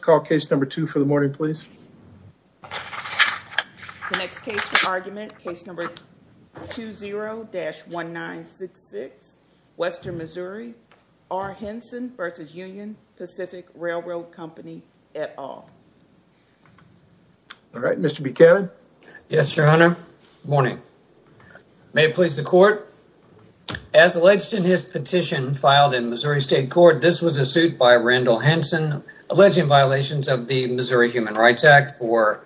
Call case number two for the morning, please. The next case for argument, case number 20-1966, Western Missouri, R. Henson v. Union Pacific Railroad Company, et al. All right, Mr. Buchanan. Yes, your honor. Good morning. May it please the court. As alleged in his petition filed in Missouri State Court, this was a suit by Randall Henson alleging violations of the Missouri Human Rights Act for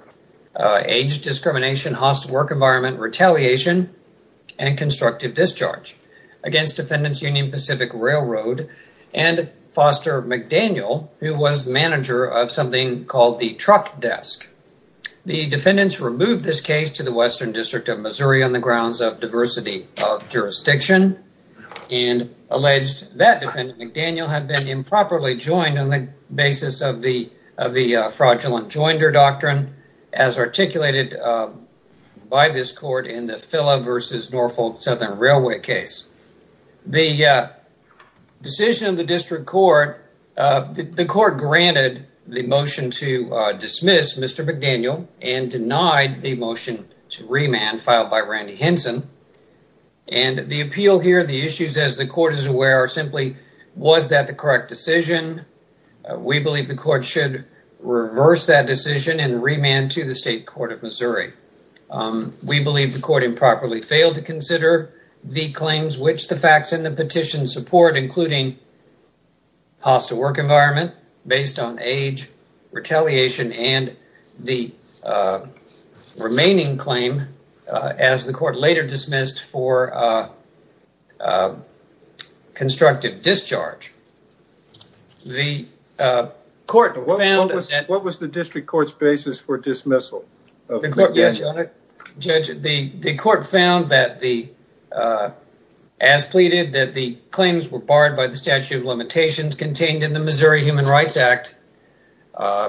age discrimination, hostile work environment, retaliation, and constructive discharge against Defendants Union Pacific Railroad and Foster McDaniel, who was manager of something called the Truck Desk. The defendants removed this case to the Western District of Missouri on the grounds of diversity of jurisdiction and alleged that McDaniel had been improperly joined on the basis of the fraudulent joinder doctrine as articulated by this court in the Phila versus Norfolk Southern Railway case. The decision of the district court, the court granted the motion to dismiss Mr. McDaniel and denied the motion to remand filed by Randy Henson, and the appeal here, the issues as the court is aware, are simply was that the correct decision. We believe the court should reverse that decision and remand to the State Court of Missouri. We believe the court improperly failed to consider the claims which the facts in the petition support, including hostile work environment based on age, retaliation, and the remaining claim as the court later dismissed for constructive discharge. What was the district court's basis for dismissal? The court found that, as pleaded, that the claims were barred by the statute of limitations contained in the Missouri Human Rights Act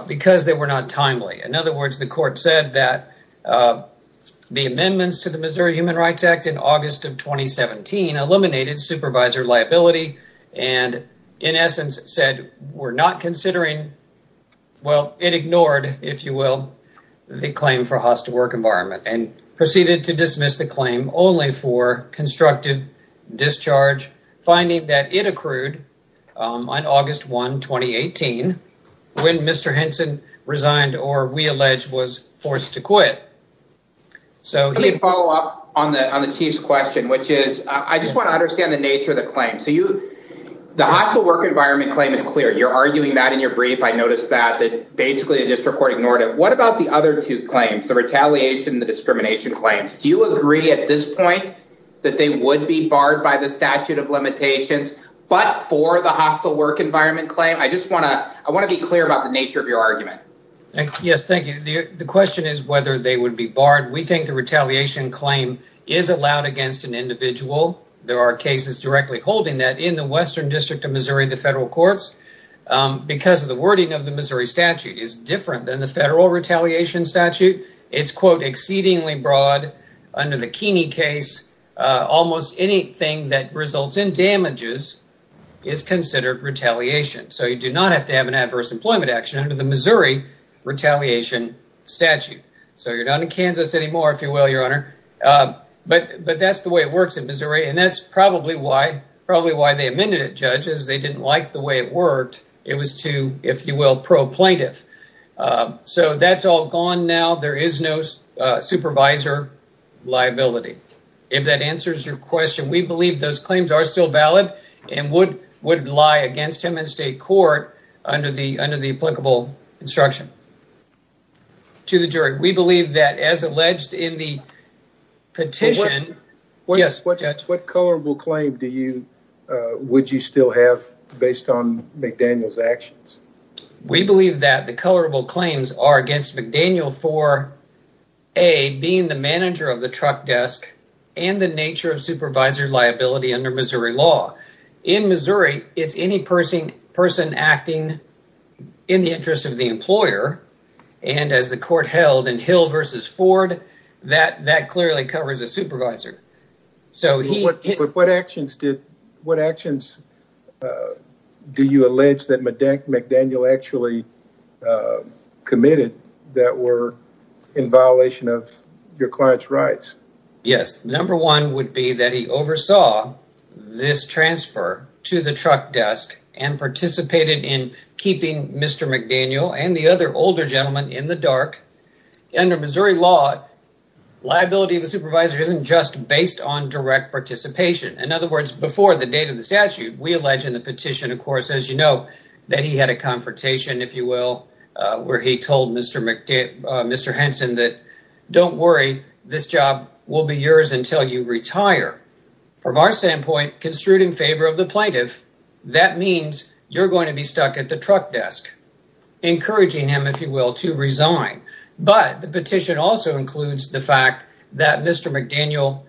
because they were not timely. In other words, the court said that the amendments to the Missouri Human Rights Act in August of 2017 eliminated supervisor liability and in essence said we're not considering, well, it ignored, if you will, the claim for hostile work environment and proceeded to dismiss the claim only for August 1, 2018 when Mr. Henson resigned or we allege was forced to quit. Let me follow up on the Chief's question, which is I just want to understand the nature of the claim. The hostile work environment claim is clear. You're arguing that in your brief. I noticed that basically the district court ignored it. What about the other two claims, the retaliation and the discrimination claims? Do you agree at this point that they would be barred by the statute of limitations? I want to be clear about the nature of your argument. Yes, thank you. The question is whether they would be barred. We think the retaliation claim is allowed against an individual. There are cases directly holding that in the Western District of Missouri, the federal courts, because of the wording of the Missouri statute is different than the federal retaliation statute. It's, quote, exceedingly broad under the Keeney almost anything that results in damages is considered retaliation. You do not have to have an adverse employment action under the Missouri retaliation statute. You're not in Kansas anymore, if you will, Your Honor. That's the way it works in Missouri. That's probably why they amended it, judges. They didn't like the way it worked. It was too, if you will, pro-plaintiff. So that's all gone now. There is no supervisor liability. If that answers your question, we believe those claims are still valid and would lie against him in state court under the applicable instruction to the jury. We believe that as alleged in the petition. What color will claim do you, would you still have based on McDaniel's actions? We believe that the colorable claims are against McDaniel for, A, being the manager of the truck desk and the nature of supervisor liability under Missouri law. In Missouri, it's any person acting in the interest of the employer, and as the court held in Hill v. Ford, that clearly covers the supervisor. So what actions did, what actions do you allege that McDaniel actually committed that were in violation of your client's rights? Yes, number one would be that he oversaw this transfer to the truck desk and participated in keeping Mr. McDaniel and the other older in the dark. Under Missouri law, liability of a supervisor isn't just based on direct participation. In other words, before the date of the statute, we allege in the petition, of course, as you know, that he had a confrontation, if you will, where he told Mr. Henson that, don't worry, this job will be yours until you retire. From our standpoint, construed in favor of the plaintiff, that means you're going to be stuck at the truck desk, encouraging him, if you will, to resign. But the petition also includes the fact that Mr. McDaniel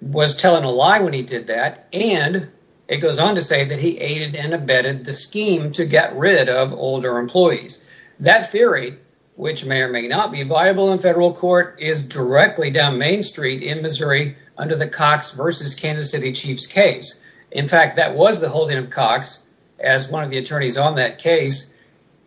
was telling a lie when he did that, and it goes on to say that he aided and abetted the scheme to get rid of older employees. That theory, which may or may not be viable in federal court, is directly down Main Street in Missouri under the Cox v. Kansas City Chief's case. In fact, that was the holding of Cox as one of the attorneys on that case,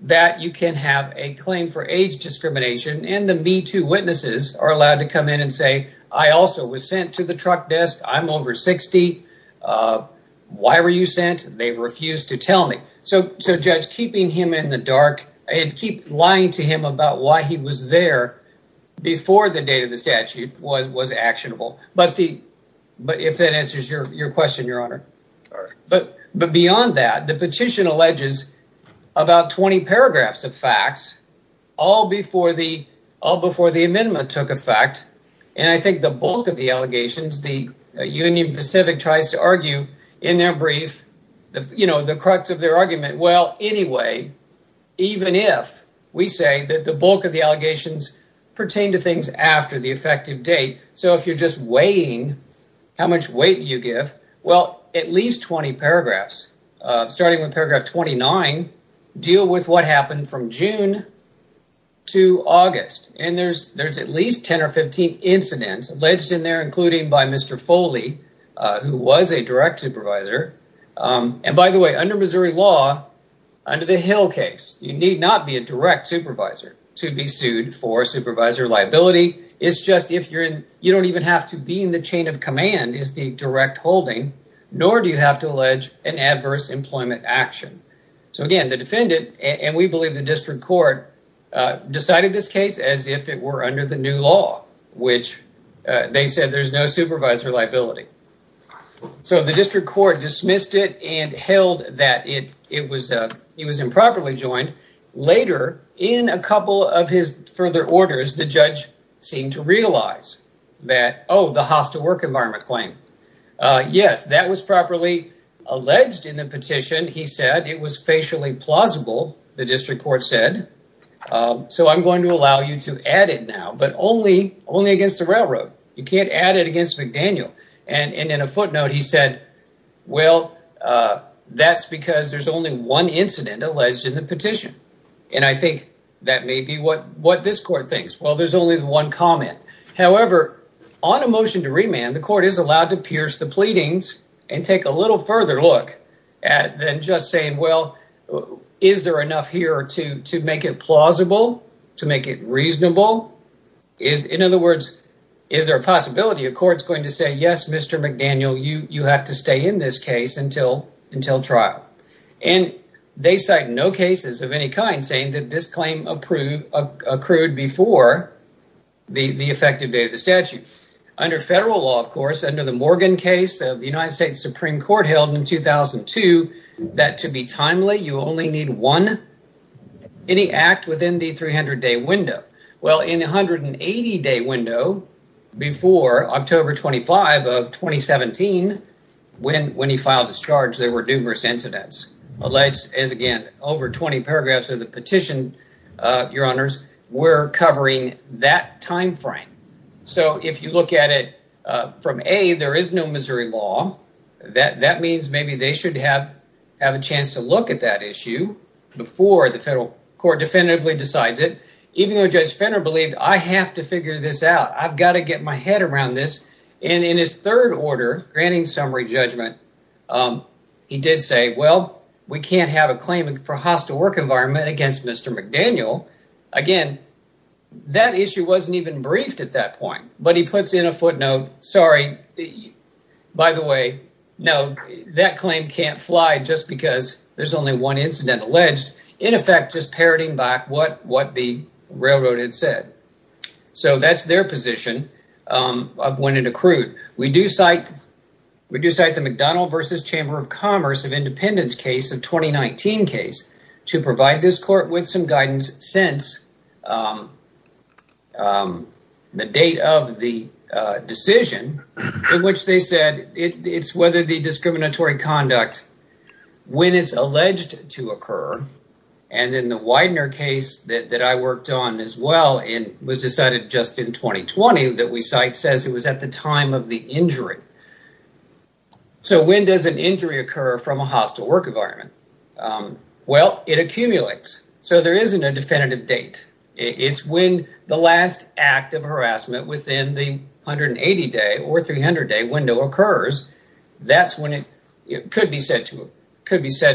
that you can have a claim for age discrimination, and the MeToo witnesses are allowed to come in and say, I also was sent to the truck desk. I'm over 60. Why were you sent? They refused to tell me. So, Judge, keeping him in the dark and keep lying to him about why he was there before the statute was actionable. But if that answers your question, Your Honor. But beyond that, the petition alleges about 20 paragraphs of facts, all before the amendment took effect, and I think the bulk of the allegations, the Union Pacific tries to argue in their brief, the crux of their argument, well, anyway, even if we say that the bulk of the allegations pertain to things after the effective date, so if you're just weighing how much weight you give, well, at least 20 paragraphs, starting with paragraph 29, deal with what happened from June to August, and there's at least 10 or 15 incidents alleged in there, including by Mr. Foley, who was a direct supervisor, and by the way, under Missouri law, under the Hill case, you need not be a direct supervisor to be sued for supervisor liability. It's just if you're in, you don't even have to be in the chain of command is the direct holding, nor do you have to allege an adverse employment action. So again, the defendant, and we believe the district court, decided this case as if it were under the new law, which they said there's no supervisor liability. So the district court dismissed it and held that he was improperly joined. Later, in a couple of his further orders, the judge seemed to realize that, oh, the hostile work environment claim. Yes, that was properly alleged in the petition. He said it was facially plausible, the district court said, so I'm going to allow you to add it now, but only against the railroad. You can't say, well, that's because there's only one incident alleged in the petition, and I think that may be what this court thinks. Well, there's only one comment. However, on a motion to remand, the court is allowed to pierce the pleadings and take a little further look than just saying, well, is there enough here to make it plausible, to make it reasonable? In other words, is there a possibility a court's going to say, yes, Mr. McDaniel, you have to stay in this case until trial? And they cite no cases of any kind saying that this claim accrued before the effective date of the statute. Under federal law, of course, under the Morgan case of the United States Supreme Court held in 2002, that to be timely, you only need one, any act within the 300-day window. Well, in the 180-day window before October 25 of 2017, when he filed his charge, there were numerous incidents alleged, as again, over 20 paragraphs of the petition, your honors, were covering that time frame. So, if you look at it from A, there is no Missouri law. That means maybe they should have a chance to look at that issue before the federal court definitively decides it, even though Judge Fenner believed, I have to figure this out. I've got to get my head around this. And in his third order, granting summary judgment, he did say, well, we can't have a claim for hostile work environment against Mr. McDaniel. Again, that issue wasn't even briefed at that point, but he puts in a footnote, sorry, by the way, no, that claim can't fly just because there's only one incident alleged, in effect, just parroting back what the railroad had said. So, that's their position of when it accrued. We do cite the McDonnell v. Chamber of Commerce of Independence case, a 2019 case, to provide this court with some guidance since the date of the decision in which they said it's whether the discriminatory conduct, when it's alleged to occur, and in the Widener case that I worked on as well, it was decided just in 2020 that we cite says it was at the time of the injury. So, when does an injury occur from a hostile work environment? Well, it accumulates. So, there isn't a definitive date. It's when the last act of harassment within the 180-day or 300-day window occurs. That's when it could be said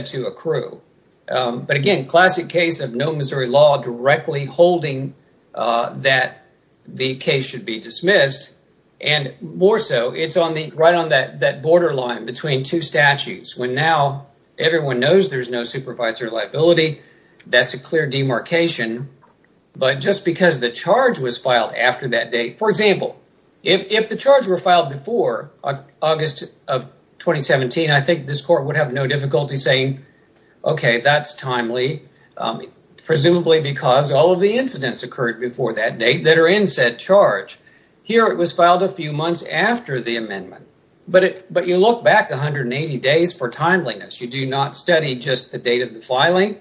to accrue. But again, classic case of no Missouri directly holding that the case should be dismissed, and more so, it's right on that borderline between two statutes when now everyone knows there's no supervisory liability. That's a clear demarcation. But just because the charge was filed after that date, for example, if the charge were filed before August of 2017, I think this court would have no difficulty saying, okay, that's timely, presumably because all of the incidents occurred before that date that are in said charge. Here, it was filed a few months after the amendment. But you look back 180 days for timeliness. You do not study just the date of the filing.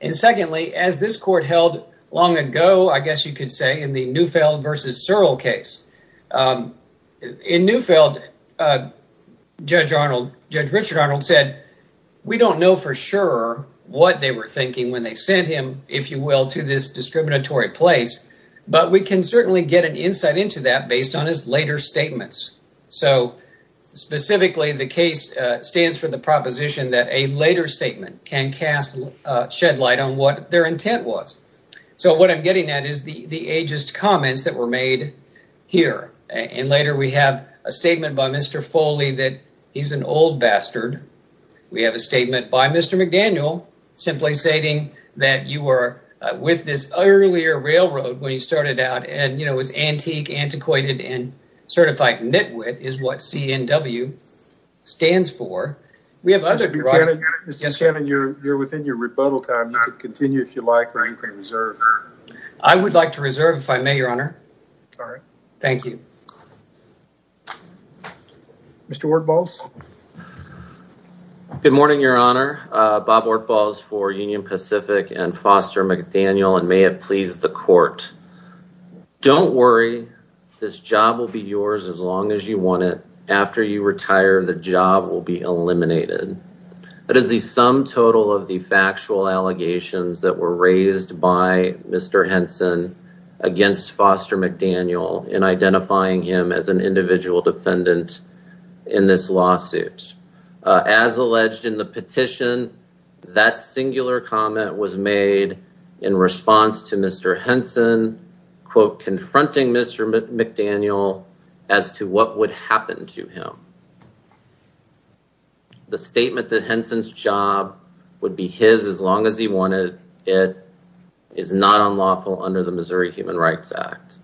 And secondly, as this court held long ago, I guess you could say in the Neufeld versus Searle case. In Neufeld, Judge Richard Searle said, we don't know for sure what they were thinking when they sent him, if you will, to this discriminatory place. But we can certainly get an insight into that based on his later statements. So specifically, the case stands for the proposition that a later statement can cast shed light on what their intent was. So what I'm getting at is the ageist comments that were made here. And later, we have a statement by Mr. Foley that he's an old bastard. We have a statement by Mr. McDaniel simply stating that you were with this earlier railroad when you started out. And, you know, it's antique, antiquated, and certified nitwit is what CNW stands for. Mr. Shannon, you're within your rebuttal time. You can continue if you like. I would like to reserve, if I may, Your Honor. Thank you. Good morning, Your Honor. Bob Ortbals for Union Pacific and Foster McDaniel, and may it please the court. Don't worry. This job will be yours as long as you want it. After you retire, the job will be eliminated. That is the sum total of the factual allegations that were raised by Mr. Henson against Foster McDaniel in identifying him as an individual defendant in this lawsuit. As alleged in the petition, that singular comment was made in response to Mr. Henson, quote, confronting Mr. McDaniel as to what would happen to him. The statement that Henson's job would be his as long as he wanted it is not unlawful under the Missouri Human Rights Act.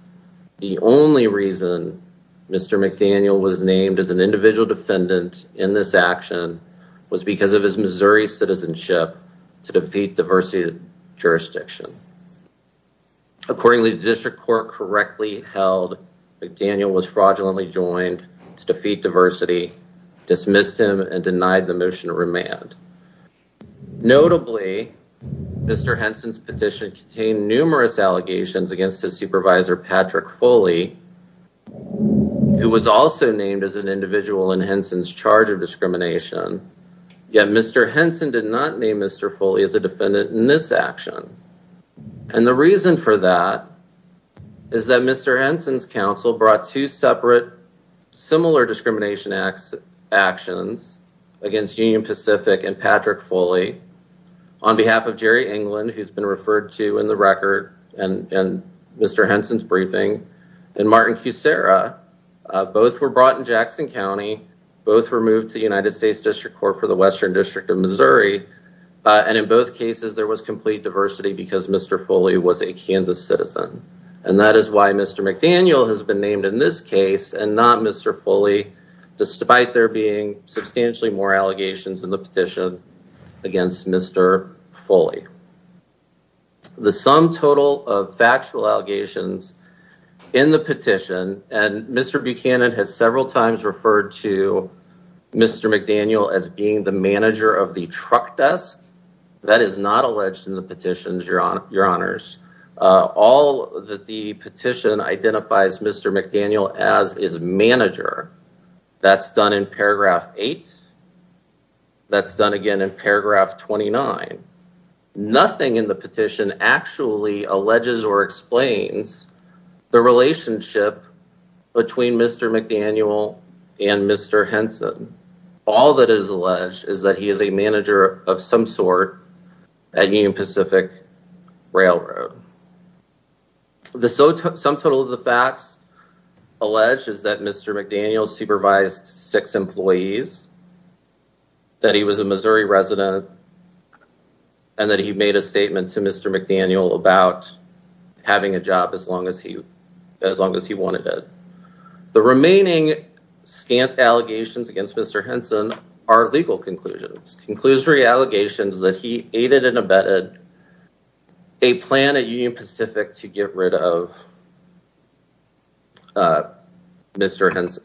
The only reason Mr. McDaniel was named as an individual defendant in this action was because of his Missouri citizenship to defeat diversity jurisdiction. Accordingly, the district court correctly held McDaniel was fraudulently joined to defeat diversity, dismissed him, and denied the motion of remand. Notably, Mr. Henson's petition contained numerous allegations against his supervisor, Patrick Foley, who was also named as an individual in Henson's charge of discrimination. Yet Mr. Henson did not name Mr. Foley as a defendant in this action. And the reason for that is that Mr. Henson's counsel brought two separate similar discrimination actions against Union Pacific and Patrick Foley on behalf of Jerry England, who's been referred to in the record and Mr. Henson's briefing, and Martin Kucera. Both were brought in Jackson County. Both were moved to the United States District Court for Western District of Missouri. And in both cases, there was complete diversity because Mr. Foley was a Kansas citizen. And that is why Mr. McDaniel has been named in this case and not Mr. Foley, despite there being substantially more allegations in the petition against Mr. Foley. The sum total of factual allegations in the petition, and Mr. Buchanan has several times referred to Mr. McDaniel as being the manager of the truck desk. That is not alleged in the petitions, your honors. All that the petition identifies Mr. McDaniel as is manager. That's done in paragraph eight. That's done again in paragraph 29. Nothing in the petition actually alleges or explains the relationship between Mr. McDaniel and Mr. Henson. All that is alleged is that he is a manager of some sort at Union Pacific Railroad. The sum total of the facts alleged is that Mr. McDaniel supervised six employees, that he was a Missouri resident, and that he made a statement to Mr. McDaniel about having a job as long as he wanted it. The remaining scant allegations against Mr. Henson are legal conclusions. Conclusory allegations that he aided and abetted a plan at Union Pacific to get rid of Mr. Henson.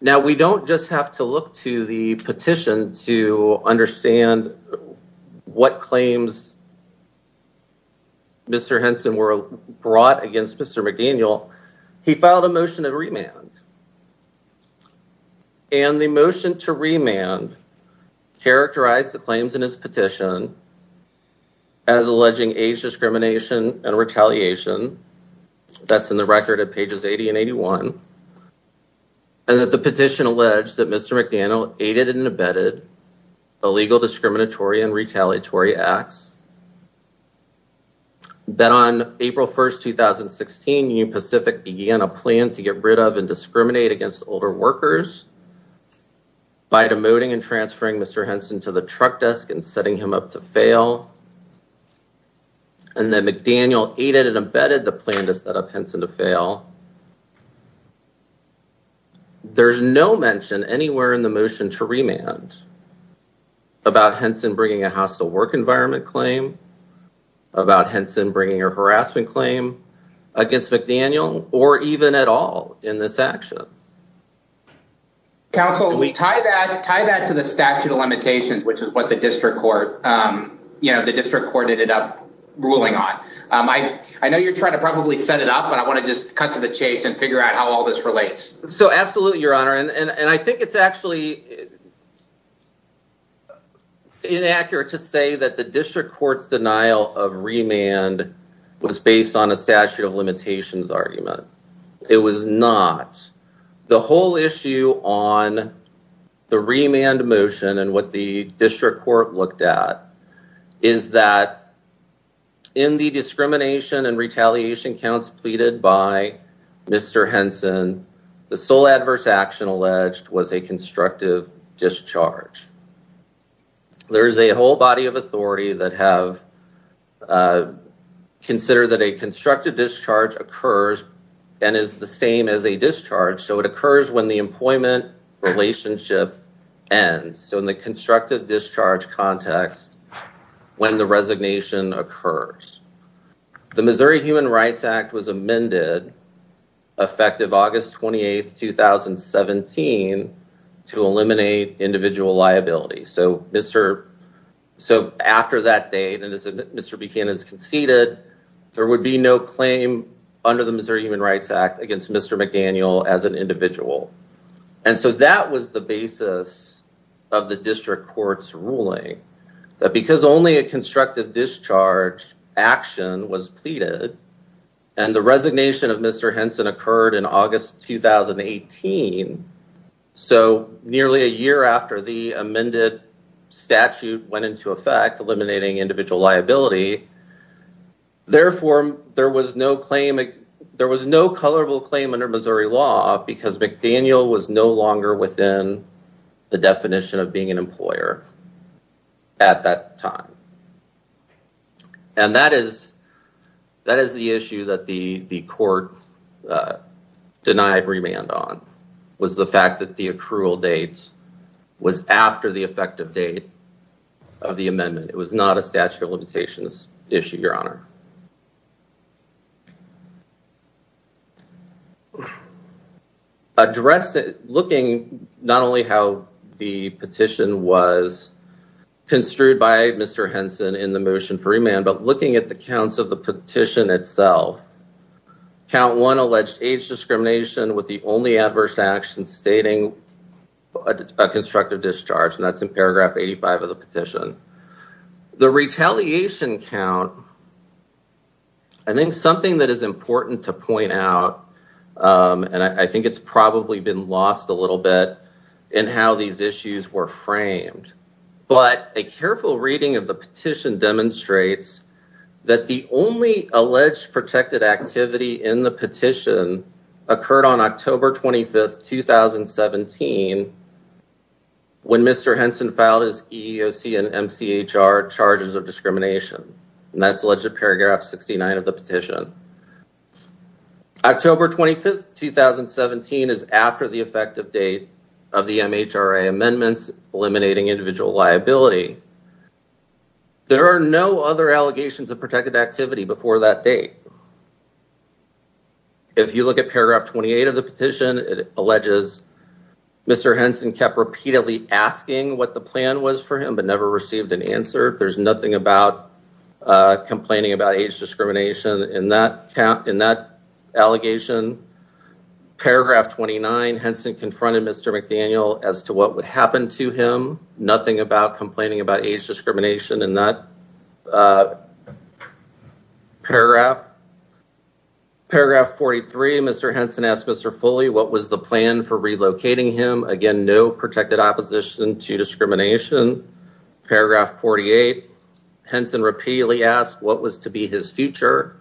Now, we don't just have to look to the petition to understand what claims Mr. Henson were brought against Mr. McDaniel. He filed a motion to remand, and the motion to remand characterized the claims in his petition as alleging age discrimination and retaliation. That's in the record at pages 80 and 81. And that the petition alleged that Mr. McDaniel aided and abetted illegal discriminatory and retaliatory acts. That on April 1, 2016, Union Pacific began a plan to get rid of and discriminate against older workers by demoting and transferring Mr. Henson to the truck desk and setting him up to fail. And that McDaniel aided and abetted the plan to set up Henson to fail. There's no mention anywhere in the motion to remand about Henson bringing a hostile work environment claim, about Henson bringing a harassment claim against McDaniel, or even at all in this action. Council, we tie that to the statute of limitations, which is what the district court, you know, the district court ended up ruling on. I know you're trying to probably set it up, I want to just cut to the chase and figure out how all this relates. So absolutely, your honor, and I think it's actually inaccurate to say that the district court's denial of remand was based on a statute of limitations argument. It was not. The whole issue on the remand motion and what the district court looked at is that in the discrimination and retaliation counts pleaded by Mr. Henson, the sole adverse action alleged was a constructive discharge. There's a whole body of authority that have considered that a constructive discharge occurs and is the same as a discharge. So it was not a constructive discharge. The Missouri Human Rights Act was amended, effective August 28, 2017, to eliminate individual liability. So after that date, and as Mr. Buchanan has conceded, there would be no claim under the Missouri Human Rights Act against Mr. McDaniel as an individual. And so that was the basis of the district court's ruling that because only a constructive discharge action was pleaded and the resignation of Mr. Henson occurred in August 2018, so nearly a year after the amended statute went into effect, eliminating individual liability, therefore there was no claim, there was no colorable claim under Missouri law because McDaniel was no longer within the definition of being an employer. At that time. And that is the issue that the court denied remand on, was the fact that the accrual date was after the effective date of the amendment. It was not a statute of limitations issue, your honor. Looking not only how the petition was construed by Mr. Henson in the motion for remand, but looking at the counts of the petition itself, count one alleged age discrimination with the only adverse action stating a constructive discharge, and that's in paragraph 85 of the count. I think something that is important to point out, and I think it's probably been lost a little bit in how these issues were framed, but a careful reading of the petition demonstrates that the only alleged protected activity in the petition occurred on October 25th, 2017 when Mr. Henson filed his EEOC and MCHR charges of discrimination. And that's alleged to paragraph 69 of the petition. October 25th, 2017 is after the effective date of the MHRA amendments, eliminating individual liability. There are no other allegations of protected activity before that date. And if you look at paragraph 28 of the petition, it alleges Mr. Henson kept repeatedly asking what the plan was for him, but never received an answer. There's nothing about complaining about age discrimination in that allegation. Paragraph 29, Henson confronted Mr. McDaniel as to what would happen to him. Nothing about complaining about age discrimination in that paragraph. Paragraph 43, Mr. Henson asked Mr. Foley what was the plan for relocating him. Again, no protected opposition to discrimination. Paragraph 48, Henson repeatedly asked what was to be his future.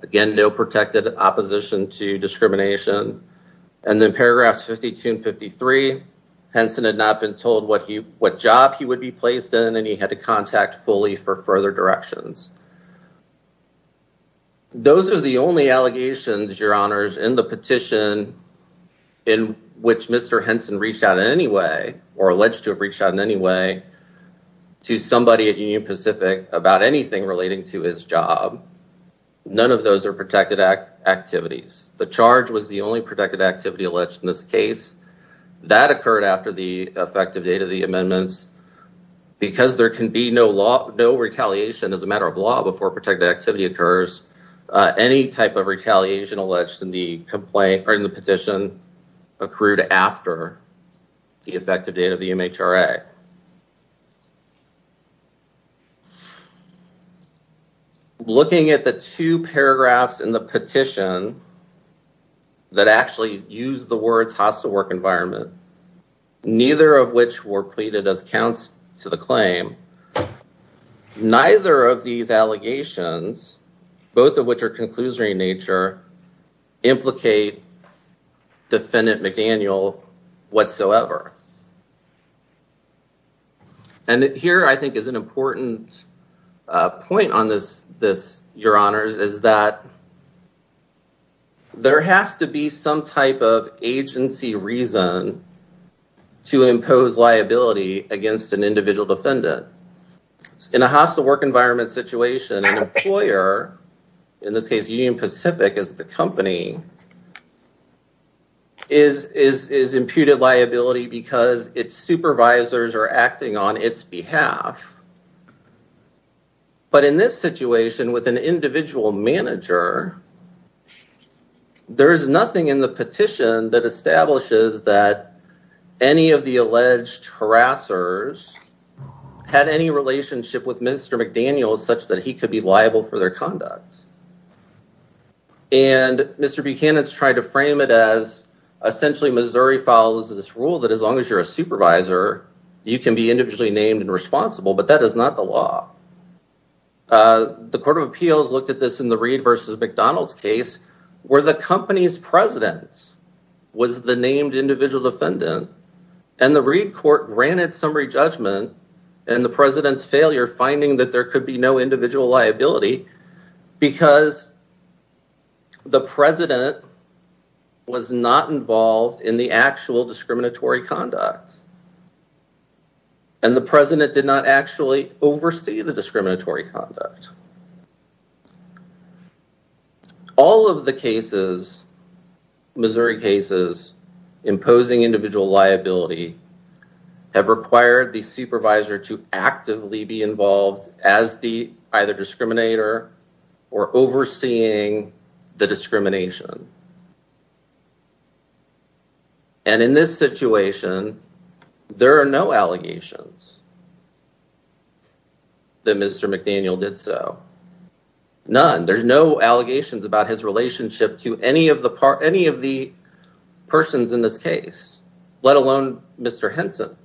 Again, no protected opposition to discrimination. And then not been told what job he would be placed in and he had to contact Foley for further directions. Those are the only allegations, your honors, in the petition in which Mr. Henson reached out in any way or alleged to have reached out in any way to somebody at Union Pacific about anything relating to his job. None of those are protected activities. The charge was the only protected activity alleged in this case. That occurred after the effective date of the amendments. Because there can be no retaliation as a matter of law before protected activity occurs, any type of retaliation alleged in the petition accrued after the effective date of the MHRA. Looking at the two paragraphs in the petition that actually used the words hostile work environment, neither of which were pleaded as counts to the claim, neither of these allegations, both of which are conclusory in nature, implicate defendant McDaniel whatsoever. And here, I think, is an important point on this, your honors, is that there has to be some type of agency reason to impose liability against an individual defendant. In a hostile work environment situation, an employer, in this case, Union Pacific is the supervisor acting on its behalf. But in this situation, with an individual manager, there is nothing in the petition that establishes that any of the alleged harassers had any relationship with Mr. McDaniel such that he could be liable for their conduct. And Mr. Buchanan has tried to frame it as essentially Missouri follows this rule that as long as you're a supervisor, you can be individually named and responsible, but that is not the law. The Court of Appeals looked at this in the Reed versus McDonald's case, where the company's president was the named individual defendant, and the Reed court granted summary judgment, and the president's failure finding that there could be no individual liability because the president was not involved in the actual discriminatory conduct. And the president did not actually oversee the discriminatory conduct. All of the cases, Missouri cases, imposing individual liability have required the president to be either the discriminator or overseeing the discrimination. And in this situation, there are no allegations that Mr. McDaniel did so. None. There's no allegations about his relationship to any of the persons in this case, let alone Mr. Henson.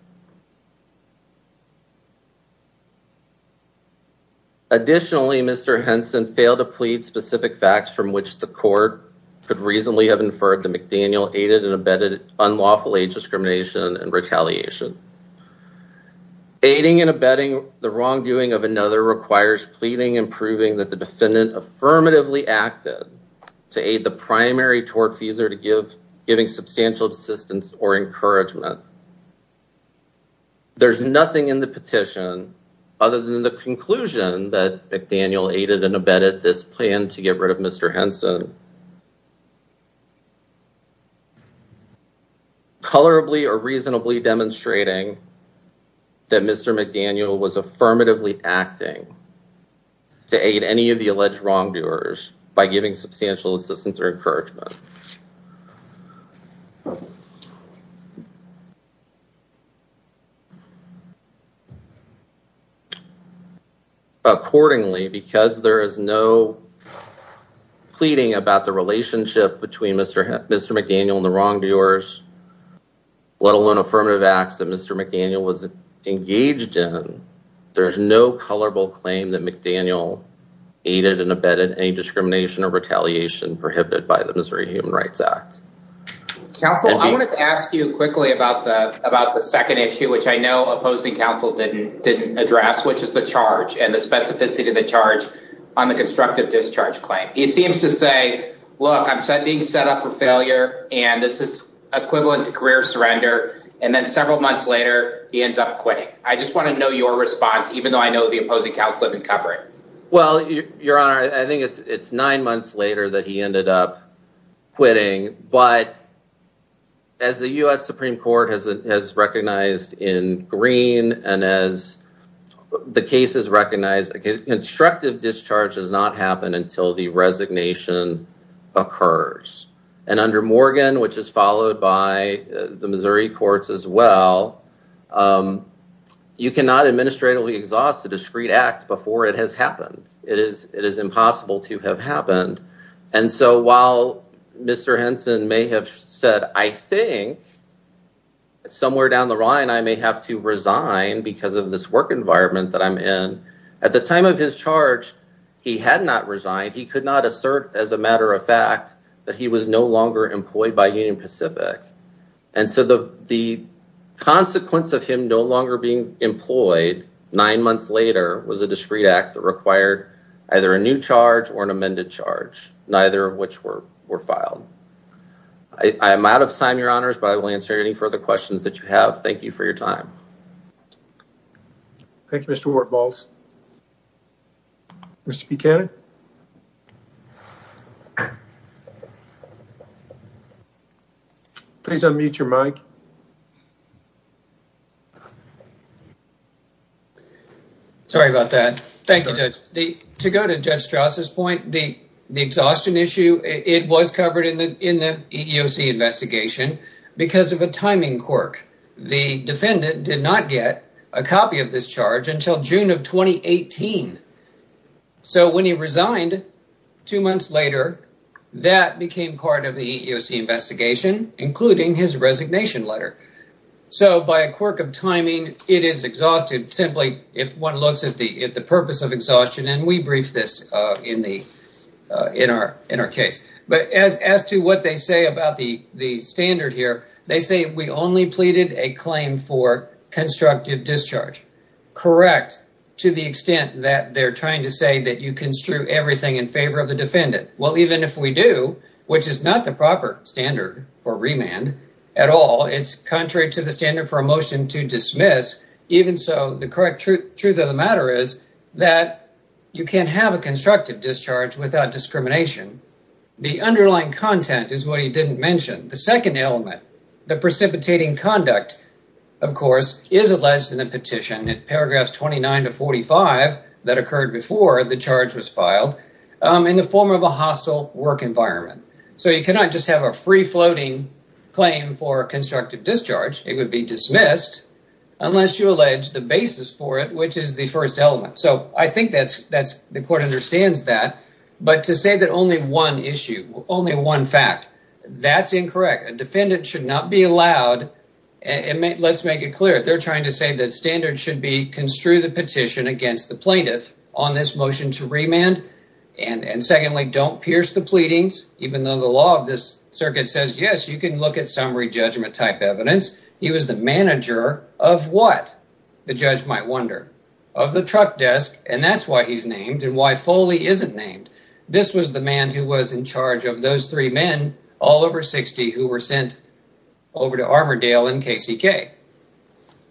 Mr. Henson failed to plead specific facts from which the court could reasonably have inferred that McDaniel aided and abetted unlawful age discrimination and retaliation. Aiding and abetting the wrongdoing of another requires pleading and proving that the defendant affirmatively acted to aid the primary tortfeasor to give giving substantial assistance or aided and abetted this plan to get rid of Mr. Henson. Colorably or reasonably demonstrating that Mr. McDaniel was affirmatively acting to aid any of the alleged wrongdoers by giving substantial assistance or encouragement. Accordingly, because there is no pleading about the relationship between Mr. McDaniel and the wrongdoers, let alone affirmative acts that Mr. McDaniel was engaged in, there's no colorable claim that McDaniel aided and abetted any discrimination or retaliation prohibited by the Missouri Human Rights Act. Counsel, I wanted to ask you quickly about the second issue, which I know opposing counsel didn't address, which is the charge and the specificity of the charge on the constructive discharge claim. He seems to say, look, I'm being set up for failure, and this is equivalent to career surrender. And then several months later, he ends up quitting. I just want to know your response, even though I know the opposing counsel didn't cover it. Well, your honor, I think it's nine months later that he ended up quitting. But as the U.S. Supreme Court has recognized in green, and as the case is recognized, constructive discharge does not happen until the resignation occurs. And under Morgan, which is followed by the Missouri it is impossible to have happened. And so while Mr. Henson may have said, I think somewhere down the line, I may have to resign because of this work environment that I'm in. At the time of his charge, he had not resigned. He could not assert as a matter of fact that he was no longer employed by Union Pacific. And so the consequence of him no longer being employed nine months later was a discreet act that required either a new charge or an amended charge, neither of which were filed. I am out of time, your honors, but I will answer any further questions that you have. Thank you for your time. Thank you, Mr. Wartbolz. Mr. Buchanan. Please unmute your mic. Sorry about that. Thank you, Judge. To go to Judge Strauss' point, the exhaustion issue, it was covered in the EEOC investigation because of a timing quirk. The defendant did not get a copy of this charge until June of 2018. So when he resigned two months later, that became part of the EEOC investigation, including his resignation letter. So by a one looks at the purpose of exhaustion, and we briefed this in our case. But as to what they say about the standard here, they say we only pleaded a claim for constructive discharge. Correct, to the extent that they're trying to say that you construe everything in favor of the defendant. Well, even if we do, which is not the proper standard for remand at all, it's contrary to the standard for a motion to dismiss. Even so, the correct truth of the matter is that you can have a constructive discharge without discrimination. The underlying content is what he didn't mention. The second element, the precipitating conduct, of course, is alleged in the petition in paragraphs 29 to 45 that occurred before the charge was filed in the of a hostile work environment. So you cannot just have a free-floating claim for constructive discharge. It would be dismissed unless you allege the basis for it, which is the first element. So I think the court understands that. But to say that only one issue, only one fact, that's incorrect. A defendant should not be allowed, and let's make it clear, they're trying to say that standard should be construe the petition against the plaintiff on this motion to dismiss. They don't pierce the pleadings, even though the law of this circuit says, yes, you can look at summary judgment type evidence. He was the manager of what? The judge might wonder. Of the truck desk, and that's why he's named and why Foley isn't named. This was the man who was in charge of those three men, all over 60, who were sent over to Armordale and KCK.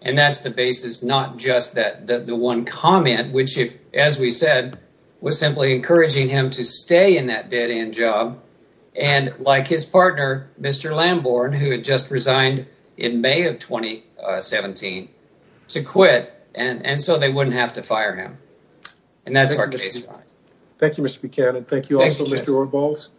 And that's the basis, not that the one comment, which if, as we said, was simply encouraging him to stay in that dead-end job. And like his partner, Mr. Lamborn, who had just resigned in May of 2017, to quit. And so they wouldn't have to fire him. And that's our case. Thank you, Mr. Buchanan. Thank you also, Mr. Orvals.